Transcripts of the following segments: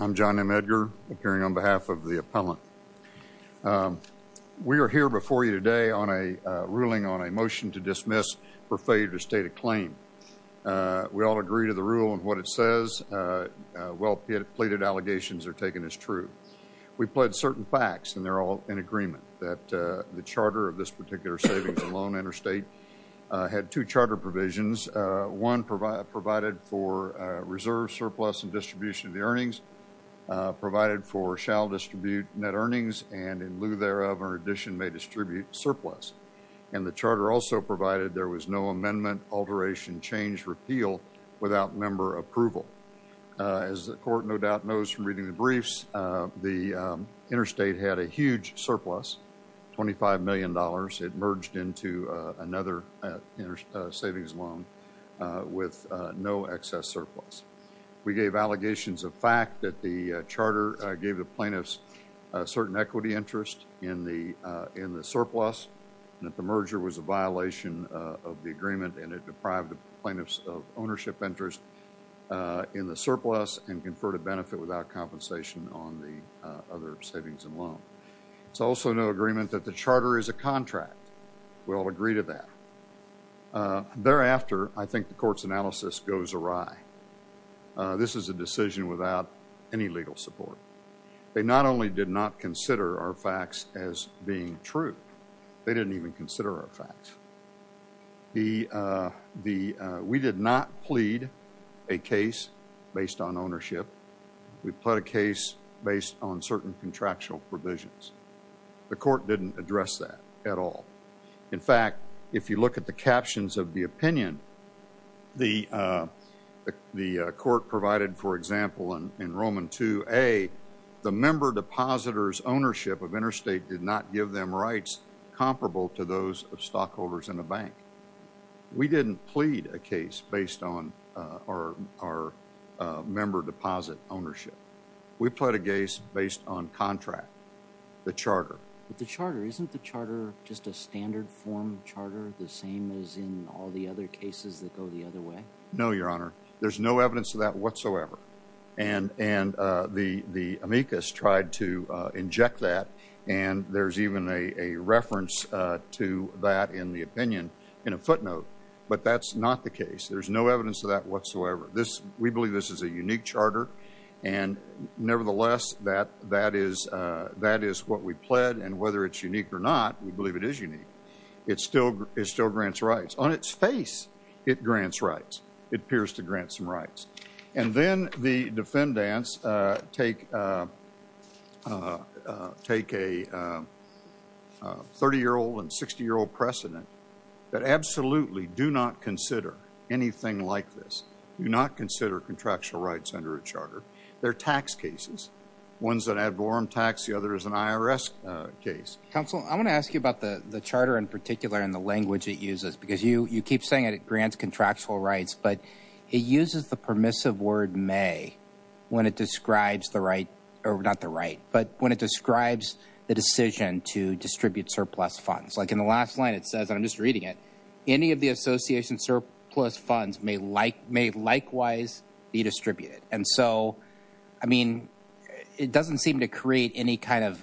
I'm John M. Edgar, appearing on behalf of the appellant. We are here before you today on a ruling on a motion to dismiss for failure to state a claim. We all agree to the rule and what it says. Well pleaded allegations are taken as true. We've pled certain facts and they're all in agreement that the charter of this particular savings and loan interstate had two charter provisions. One provided for reserve surplus and distribution of the earnings provided for shall distribute net earnings and in lieu thereof or addition may distribute surplus. And the charter also provided there was no amendment, alteration, change, repeal without member approval. As the court no doubt knows from reading the briefs, the interstate had a huge surplus, $25 million. It merged into another savings loan with no excess surplus. We gave allegations of fact that the charter gave the plaintiffs a certain equity interest in the surplus and that the merger was a violation of the agreement and it deprived the plaintiffs of ownership interest in the surplus and conferred a benefit without compensation on the other savings and loan. It's also no agreement that the charter is a contract. We all agree to that. Thereafter, I think the court's analysis goes awry. This is a decision without any legal support. They not only did not consider our facts as being true, they didn't even consider our facts. We did not plead a case based on ownership. We pled a case based on certain contractual opinion. The court provided, for example, in Roman 2A, the member depositors' ownership of interstate did not give them rights comparable to those of stockholders in a bank. We didn't plead a case based on our member deposit ownership. We pled a case based on contract, the charter. But the charter, isn't the charter just a standard form charter, the same as in all the other cases that go the other way? No, Your Honor. There's no evidence of that whatsoever. And the amicus tried to inject that and there's even a reference to that in the opinion in a footnote, but that's not the case. There's no evidence of that whatsoever. We believe this is a unique charter and nevertheless, that is what we pled and whether it's unique or not, we believe it is unique. It still grants rights. On its face, it grants rights. It appears to grant some rights. And then the defendants take a 30-year-old and 60-year-old precedent that absolutely do not consider anything like this. Do not consider contractual rights under a charter. They're tax cases. One's an ad vorem tax. The other is an IRS case. Counsel, I want to ask you about the charter in particular and the language it uses because you keep saying it grants contractual rights, but it uses the permissive word may when it describes the right, or not the right, but when it describes the decision to distribute surplus funds. Like in the last line, it says, and I'm just reading it, any of the association surplus funds may likewise be distributed. And so, I mean, it doesn't seem to create any kind of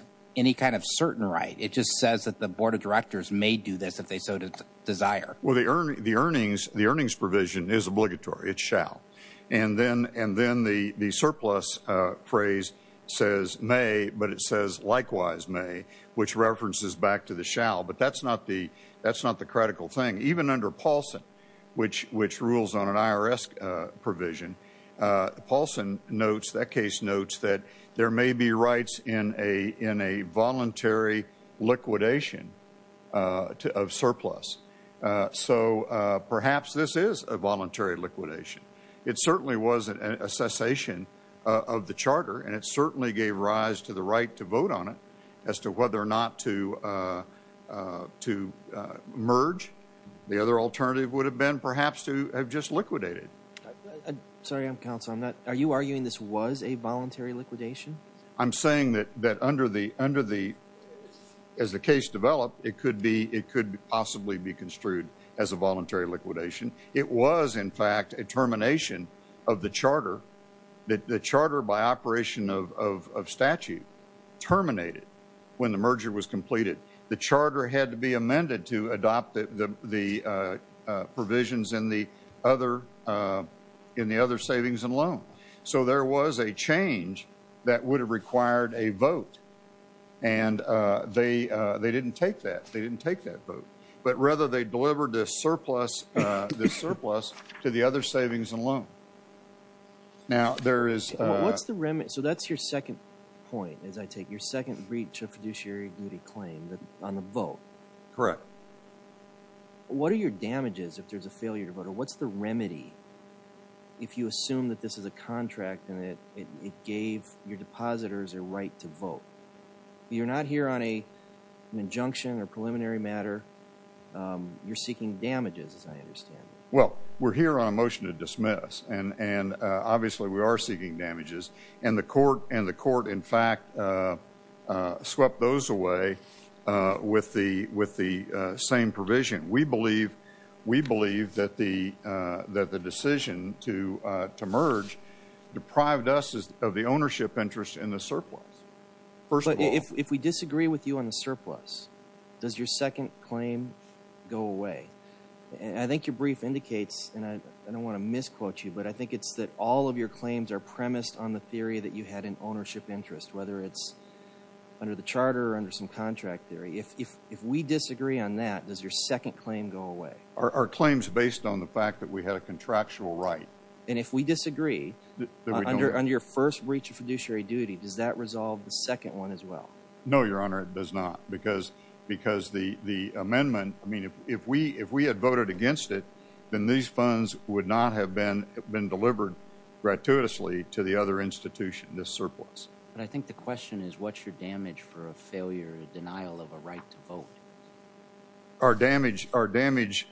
certain right. It just says that the board of directors may do this if they so desire. Well, the earnings provision is obligatory. It shall. And then the surplus phrase says may, but it says likewise may, which references back to the shall, but that's not the critical thing. Even under Paulson, which rules on an IRS provision, Paulson notes, that case notes, that there may be rights in a voluntary liquidation of surplus. So perhaps this is a voluntary liquidation. It certainly was a cessation of the charter, and it certainly gave rise to the right to vote on it as to whether or not to to merge. The other alternative would have been perhaps to have just liquidated. Sorry, counsel, are you arguing this was a voluntary liquidation? I'm saying that under the, as the case developed, it could possibly be construed as a voluntary liquidation. It was, in fact, a termination of the charter, that the charter by operation of statute terminated when the merger was completed. The charter had to be amended to adopt the provisions in the other, in the other savings and loan. So there was a change that would have required a vote, and they didn't take that. They didn't take that vote. But rather, they delivered this surplus to the other savings and loan. Now, there is... What's the remedy? So that's your second point, as I take, your second breach of fiduciary duty claim on the vote. Correct. What are your damages if there's a failure to vote, or what's the remedy if you assume that this is a contract and it gave your depositors a right to vote? You're not here on an injunction or preliminary matter. You're seeking damages, as I understand. Well, we're here on a motion to dismiss, and obviously we are seeking damages, and the court, in fact, swept those away with the same provision. We believe, we believe that the decision to merge deprived us of the ownership interest in the surplus. First of all... But if we disagree with you on the surplus, does your second claim go away? I think your brief indicates, and I don't want to misquote you, but I think it's that all of your claims are premised on the theory that you had an ownership interest, whether it's under the charter or under some contract theory. If we disagree on that, does your second claim go away? Our claim's based on the fact that we had a contractual right. And if we disagree under your first breach of fiduciary duty, does that resolve the second one as well? No, Your Honor, it does not, because the amendment, I mean, if we had voted against it, then these funds would not have been delivered gratuitously to the other institution, the surplus. But I think the question is, what's your damage for a failure, a denial of a right to vote? Our damage was,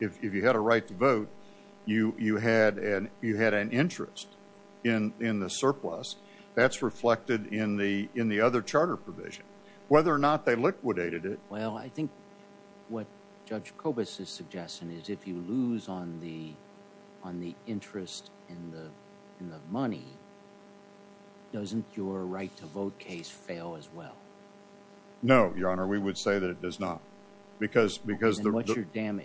if you had a right to vote, you had an interest in the surplus. That's reflected in the other charter provision. Whether or not they liquidated it... I think what Judge Kobus is suggesting is if you lose on the interest in the money, doesn't your right to vote case fail as well? No, Your Honor, we would say that it does not. Again,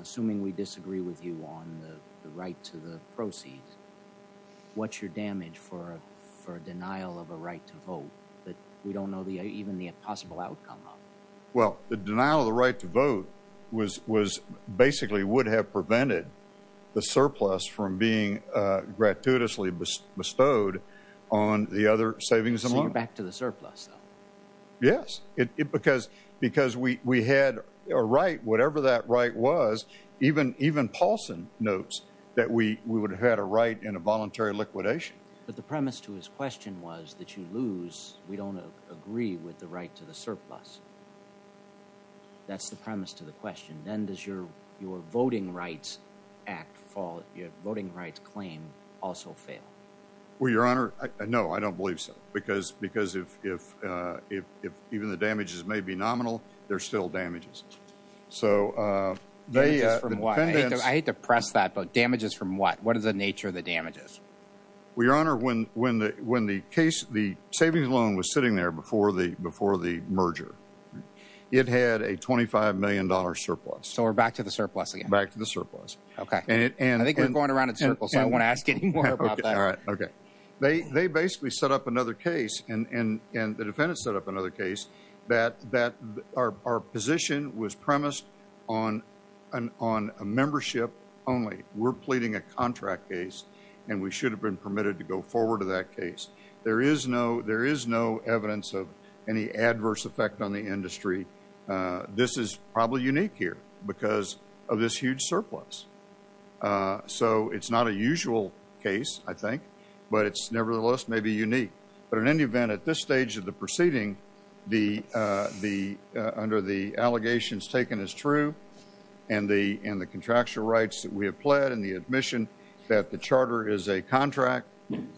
assuming we disagree with you on the right to the proceeds, what's your damage for a denial of a right to vote that we don't know even the possible outcome of? The denial of the right to vote basically would have prevented the surplus from being gratuitously bestowed on the other savings amount. So you're back to the surplus, though? Yes, because we had a right, whatever that right was, even Paulson notes that we would have had a right in a voluntary liquidation. But the premise to his question was that you lose, we don't agree with the right to the surplus. That's the premise to the question. Then does your voting rights claim also fail? Well, Your Honor, no, I don't believe so, because if even the damages may be nominal, they're still damages. So they... I hate to press that, but damages from what? What is the nature of the damages? Well, Your Honor, when the case, the savings loan was sitting there before the merger. It had a $25 million surplus. So we're back to the surplus again? Back to the surplus. Okay. And I think we're going around in circles, so I won't ask anymore about that. Okay. They basically set up another case and the defendant set up another case that our position was premised on a membership only. We're pleading a contract case and we should have been permitted to go forward to that case. There is no evidence of any adverse effect on the industry. This is probably unique here because of this huge surplus. So it's not a usual case, I think, but it's nevertheless maybe unique. But in any event, at this stage of the proceeding, under the allegations taken as true and the contractual rights that we have pled and the admission that the charter is a contract,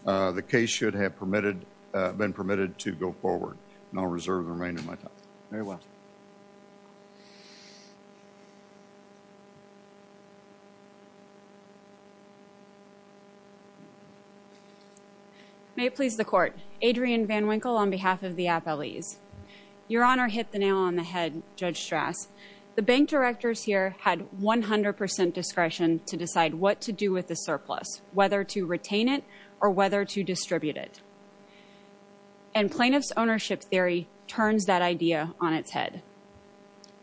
the case should have been permitted to go forward. And I'll reserve the remainder of my time. Very well. May it please the Court. Adrienne Van Winkle on behalf of the appellees. Your Honor hit the nail on the head, Judge Strass. The bank directors here had 100% discretion to decide what to do with the surplus, whether to retain it or whether to distribute it. And plaintiff's ownership theory turns that idea on its head.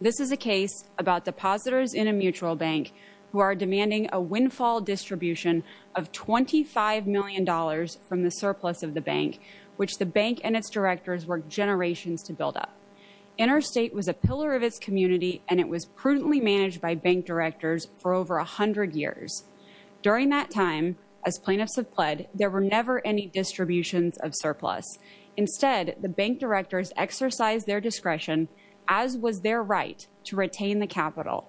This is a case about depositors in a mutual bank who are demanding a windfall distribution of $25 million from the surplus of the bank, which the bank and its directors worked generations to build up. Interstate was a pillar of its community and it was prudently managed by bank directors for over 100 years. During that time, as plaintiffs have pled, there were never any distributions of surplus. Instead, the bank directors exercised their discretion, as was their right, to retain the capital,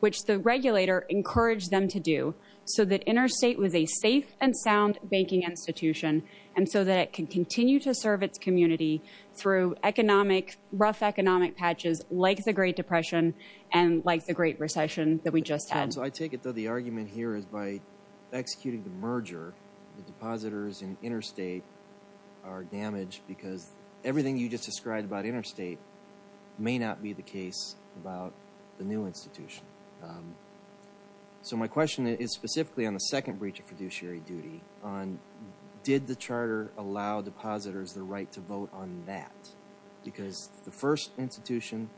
which the regulator encouraged them to do so that Interstate was a safe and sound banking institution and so that it can continue to serve its community through economic, rough economic patches like the Great Depression and like the Great Recession that we just had. So I take it, though, the argument here is by executing the merger, the depositors in Interstate are damaged because everything you just described about Interstate may not be the case about the new institution. So my question is specifically on the second breach of fiduciary duty on did the charter allow depositors the right to vote on that? Because the first institution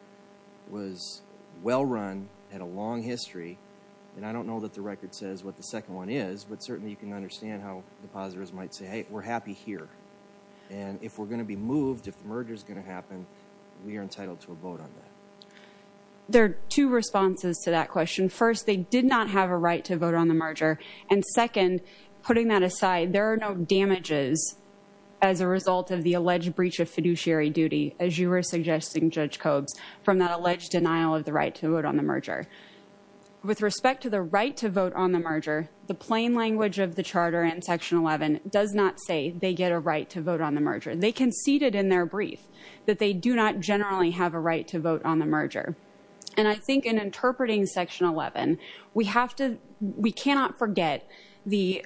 was well run, had a long history, and I don't know that the record says what the second one is, but certainly you can understand how depositors might say, hey, we're happy here. And if we're going to be moved, if the merger is going to happen, we are entitled to a vote on that. There are two responses to that question. First, they did not have a right to vote on the merger. And second, putting that aside, there are no damages as a result of the alleged breach of fiduciary duty, as you were suggesting, Judge Cobes, from that alleged denial of the right to vote on the merger. With respect to the right to vote on the merger, the plain language of the charter and Section 11 does not say they get a right to vote on the merger. They conceded in their brief that they do not generally have a right to vote on the merger. And I think in interpreting Section 11, we cannot forget the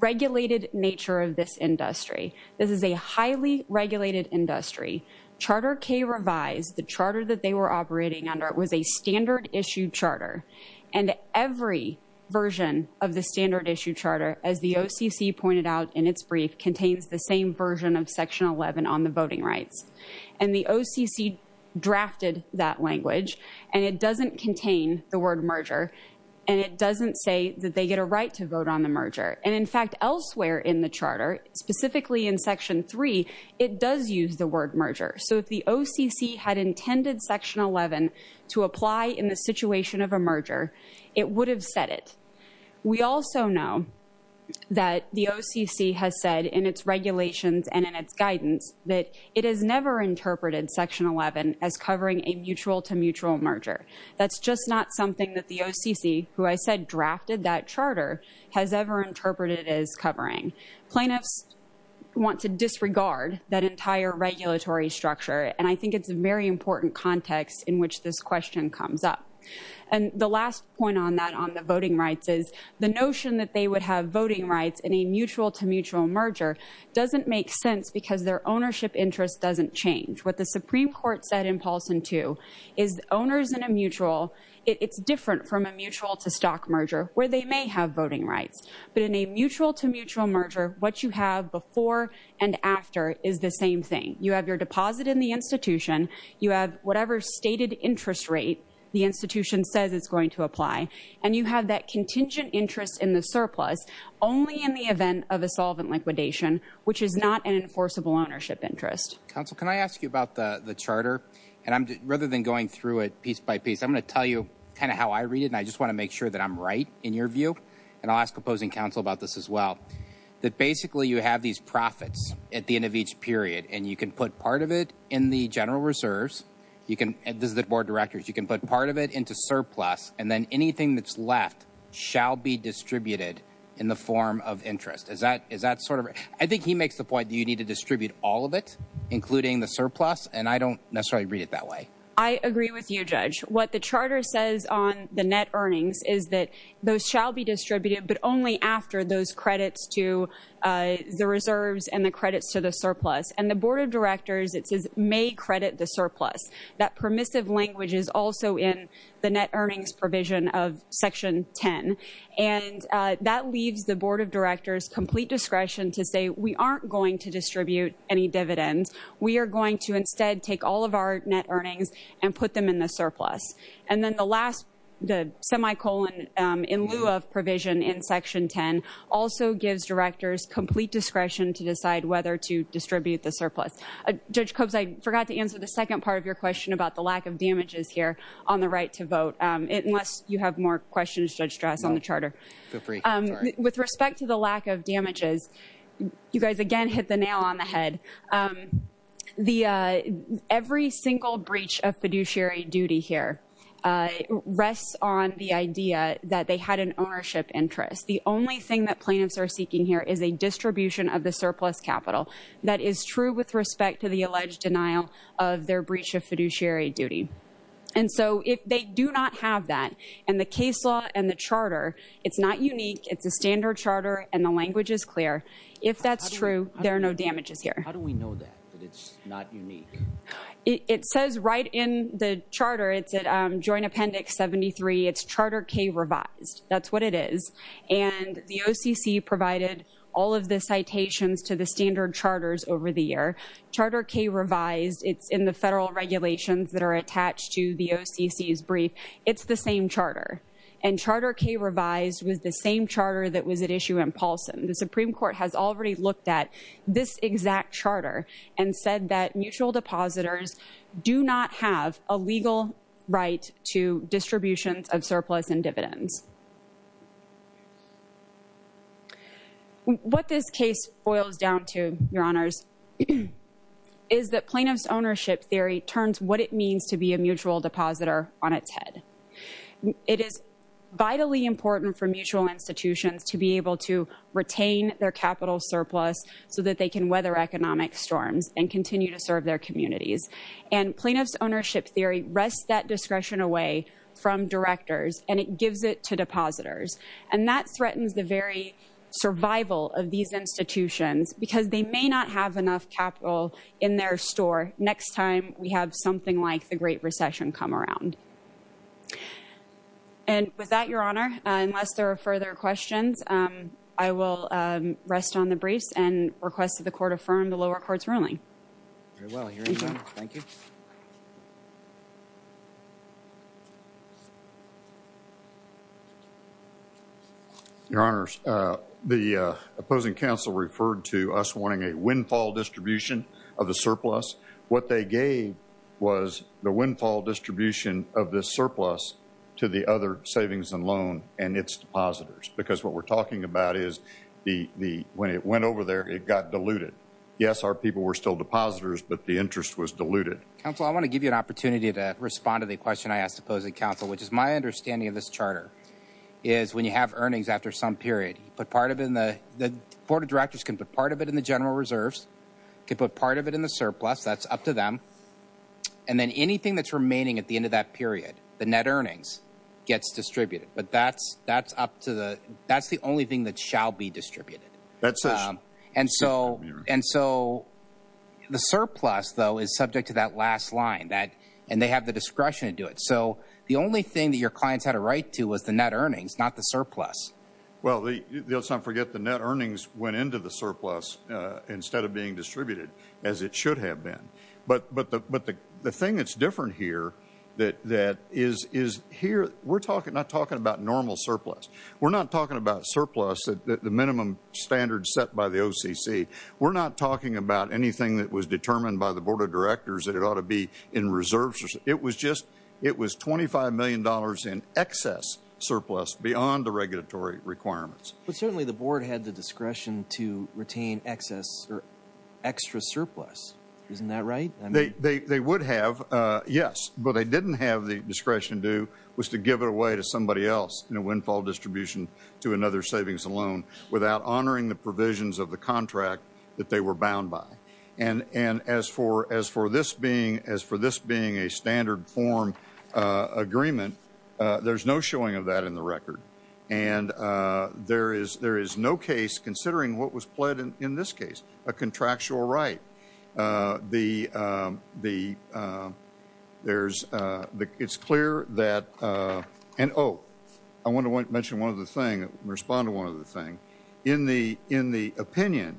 regulated nature of this industry. This is a highly regulated industry. Charter K revised, the charter that they were operating under, was a standard issue charter. And every version of the standard issue charter, as the OCC pointed out in its brief, contains the same version of Section 11 on the voting rights. And the OCC drafted that language. And it doesn't contain the word merger. And it doesn't say that they get a right to vote on the merger. And in fact, elsewhere in the charter, specifically in Section 3, it does use the word merger. So if the OCC had intended Section 11 to apply in the situation of a merger, it would have said it. We also know that the OCC has said in its regulations and in its guidance that it has never interpreted Section 11 as covering a mutual-to-mutual merger. That's just not something that the OCC, who I said drafted that charter, has ever interpreted as covering. Plaintiffs want to disregard that entire regulatory structure. And I think it's a very important context in which this question comes up. And the last point on that, on the voting rights, is the notion that they would have voting rights in a mutual-to-mutual merger doesn't make sense because their ownership interest doesn't change. What the Supreme Court said in Paulson 2 is owners in a mutual, it's different from a mutual-to-stock merger where they may have voting rights. But in a mutual-to-mutual merger, what you have before and after is the same thing. You have your deposit in the institution. You have whatever stated interest rate the institution says it's going to apply. And you have that contingent interest in the surplus only in the event of a solvent liquidation, which is not an enforceable ownership interest. Counsel, can I ask you about the charter? And rather than going through it piece by piece, I'm going to tell you kind of how I read it. And I just want to make sure that I'm right in your view. And I'll ask opposing counsel about this as well, that basically you have these profits at the end of each period. And you can put part of it in the general reserves. You can, this is the board of directors, you can put part of it into surplus. And then anything that's left shall be distributed in the form of interest. Is that sort of, I think he makes the point that you need to distribute all of it. Including the surplus. And I don't necessarily read it that way. I agree with you, Judge. What the charter says on the net earnings is that those shall be distributed, but only after those credits to the reserves and the credits to the surplus. And the board of directors, it says may credit the surplus. That permissive language is also in the net earnings provision of section 10. And that leaves the board of directors complete discretion to say we aren't going to distribute any dividends. We are going to instead take all of our net earnings and put them in the surplus. And then the last, the semicolon in lieu of provision in section 10 also gives directors complete discretion to decide whether to distribute the surplus. Judge Coates, I forgot to answer the second part of your question about the lack of damages here on the right to vote. Unless you have more questions, Judge Strass, on the charter. No, feel free. With respect to the lack of damages, you guys again hit the nail on the head. Every single breach of fiduciary duty here rests on the idea that they had an ownership interest. The only thing that plaintiffs are seeking here is a distribution of the surplus capital that is true with respect to the alleged denial of their breach of fiduciary duty. And so if they do not have that and the case law and the charter, it's not unique. It's a standard charter and the language is clear. If that's true, there are no damages here. How do we know that, that it's not unique? It says right in the charter, it's at joint appendix 73, it's charter K revised. That's what it is. And the OCC provided all of the citations to the standard charters over the year. Charter K revised, it's in the federal regulations that are attached to the OCC's brief. It's the same charter. And charter K revised was the same charter that was at issue in Paulson. The Supreme Court has already looked at this exact charter and said that mutual depositors do not have a legal right to distributions of surplus and dividends. What this case boils down to, your honors, is that plaintiff's ownership theory turns what it means to be a mutual depositor on its head. It is vitally important for mutual institutions to be able to retain their capital surplus so that they can weather economic storms and continue to serve their communities. And plaintiff's ownership theory rests that discretion away from directors and it gives it to depositors. And that threatens the very survival of these institutions because they may not have enough capital in their store next time we have something like the Great Recession come around. And with that, your honor, unless there are further questions, I will rest on the briefs and request that the court affirm the lower court's ruling. Very well, your honor. Thank you. Your honors, the opposing counsel referred to us wanting a windfall distribution of the surplus. What they gave was the windfall distribution of this surplus to the other savings and loan and its depositors. Because what we're talking about is when it went over there, it got diluted. Yes, our people were still depositors, but the interest was diluted. Counsel, I want to give you an opportunity to respond to the question I asked opposing counsel, which is my understanding of this charter, is when you have earnings after some period, you put part of it in the, the board of directors can put part of it in the general reserves, can put part of it in the surplus, that's up to them. And then anything that's remaining at the end of that period, the net earnings gets distributed. But that's, that's up to the, that's the only thing that shall be distributed. That's it. And so, and so the surplus though, is subject to that last line that, and they have the discretion to do it. So the only thing that your clients had a right to was the net earnings, not the surplus. Well, let's not forget the net earnings went into the surplus instead of being distributed as it should have been. But, but the, but the, the thing that's different here that, that is, is here, we're talking, not talking about normal surplus. We're not talking about surplus, the minimum standard set by the OCC. We're not talking about anything that was determined by the board of directors that it ought to be in reserves. It was just, it was $25 million in excess surplus beyond the regulatory requirements. But certainly the board had the discretion to retain excess or extra surplus. Isn't that right? They would have, yes, but they didn't have the discretion to, was to give it away to somebody else in a windfall distribution to another savings alone without honoring the provisions of the contract that they were bound by. And, and as for, as for this being, as for this being a standard form agreement, there's no showing of that in the record. And there is, there is no case considering what was pled in this case, a contractual right. The, the, there's, it's clear that, and oh, I want to mention one other thing, respond to one other thing. In the, in the opinion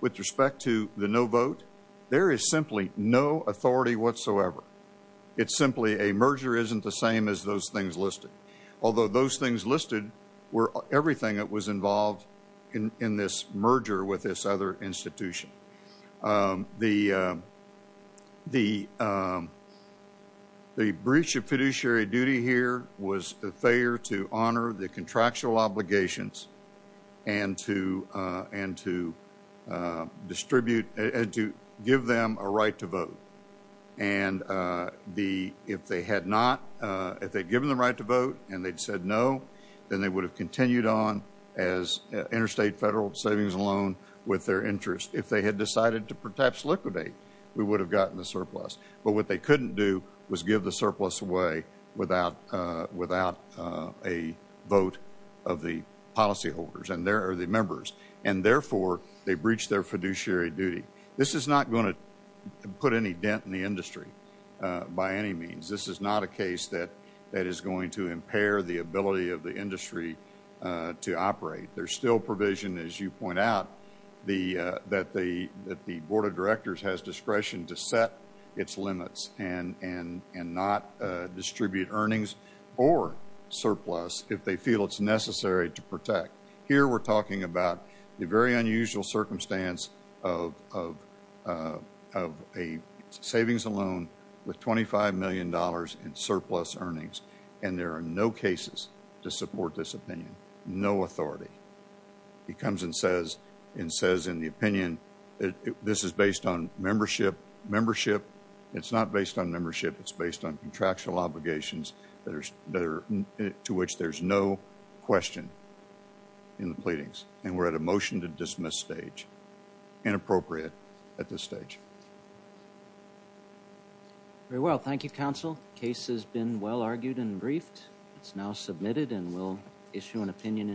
with respect to the no vote, there is simply no authority whatsoever. It's simply a merger isn't the same as those things listed. Although those things listed were everything that was involved in this merger with this other institution. The, the, the breach of fiduciary duty here was a failure to honor the contractual obligations and to, and to distribute and to give them a right to vote. And the, if they had not, if they'd given the right to vote and they'd said no, then they would have continued on as interstate federal savings alone with their interest. If they had decided to perhaps liquidate, we would have gotten the surplus. But what they couldn't do was give the surplus away without, without a vote of the policyholders and their, or the members. And therefore, they breached their fiduciary duty. This is not going to put any dent in the industry by any means. This is not a case that, that is going to impair the ability of the industry to operate. There's still provision, as you point out, the, that the, that the board of directors has discretion to set its limits and, and, and not distribute earnings or surplus if they feel it's necessary to protect. Here, we're talking about the very unusual circumstance of, of, of a savings alone with $25 million in surplus earnings. And there are no cases to support this opinion. No authority. He comes and says, and says in the opinion, this is based on membership, membership. It's not based on membership. It's based on contractual obligations that are, to which there's no question in the pleadings. And we're at a motion to dismiss stage. Inappropriate at this stage. Very well. Thank you, counsel. Case has been well argued and briefed. It's now submitted and we'll issue an opinion.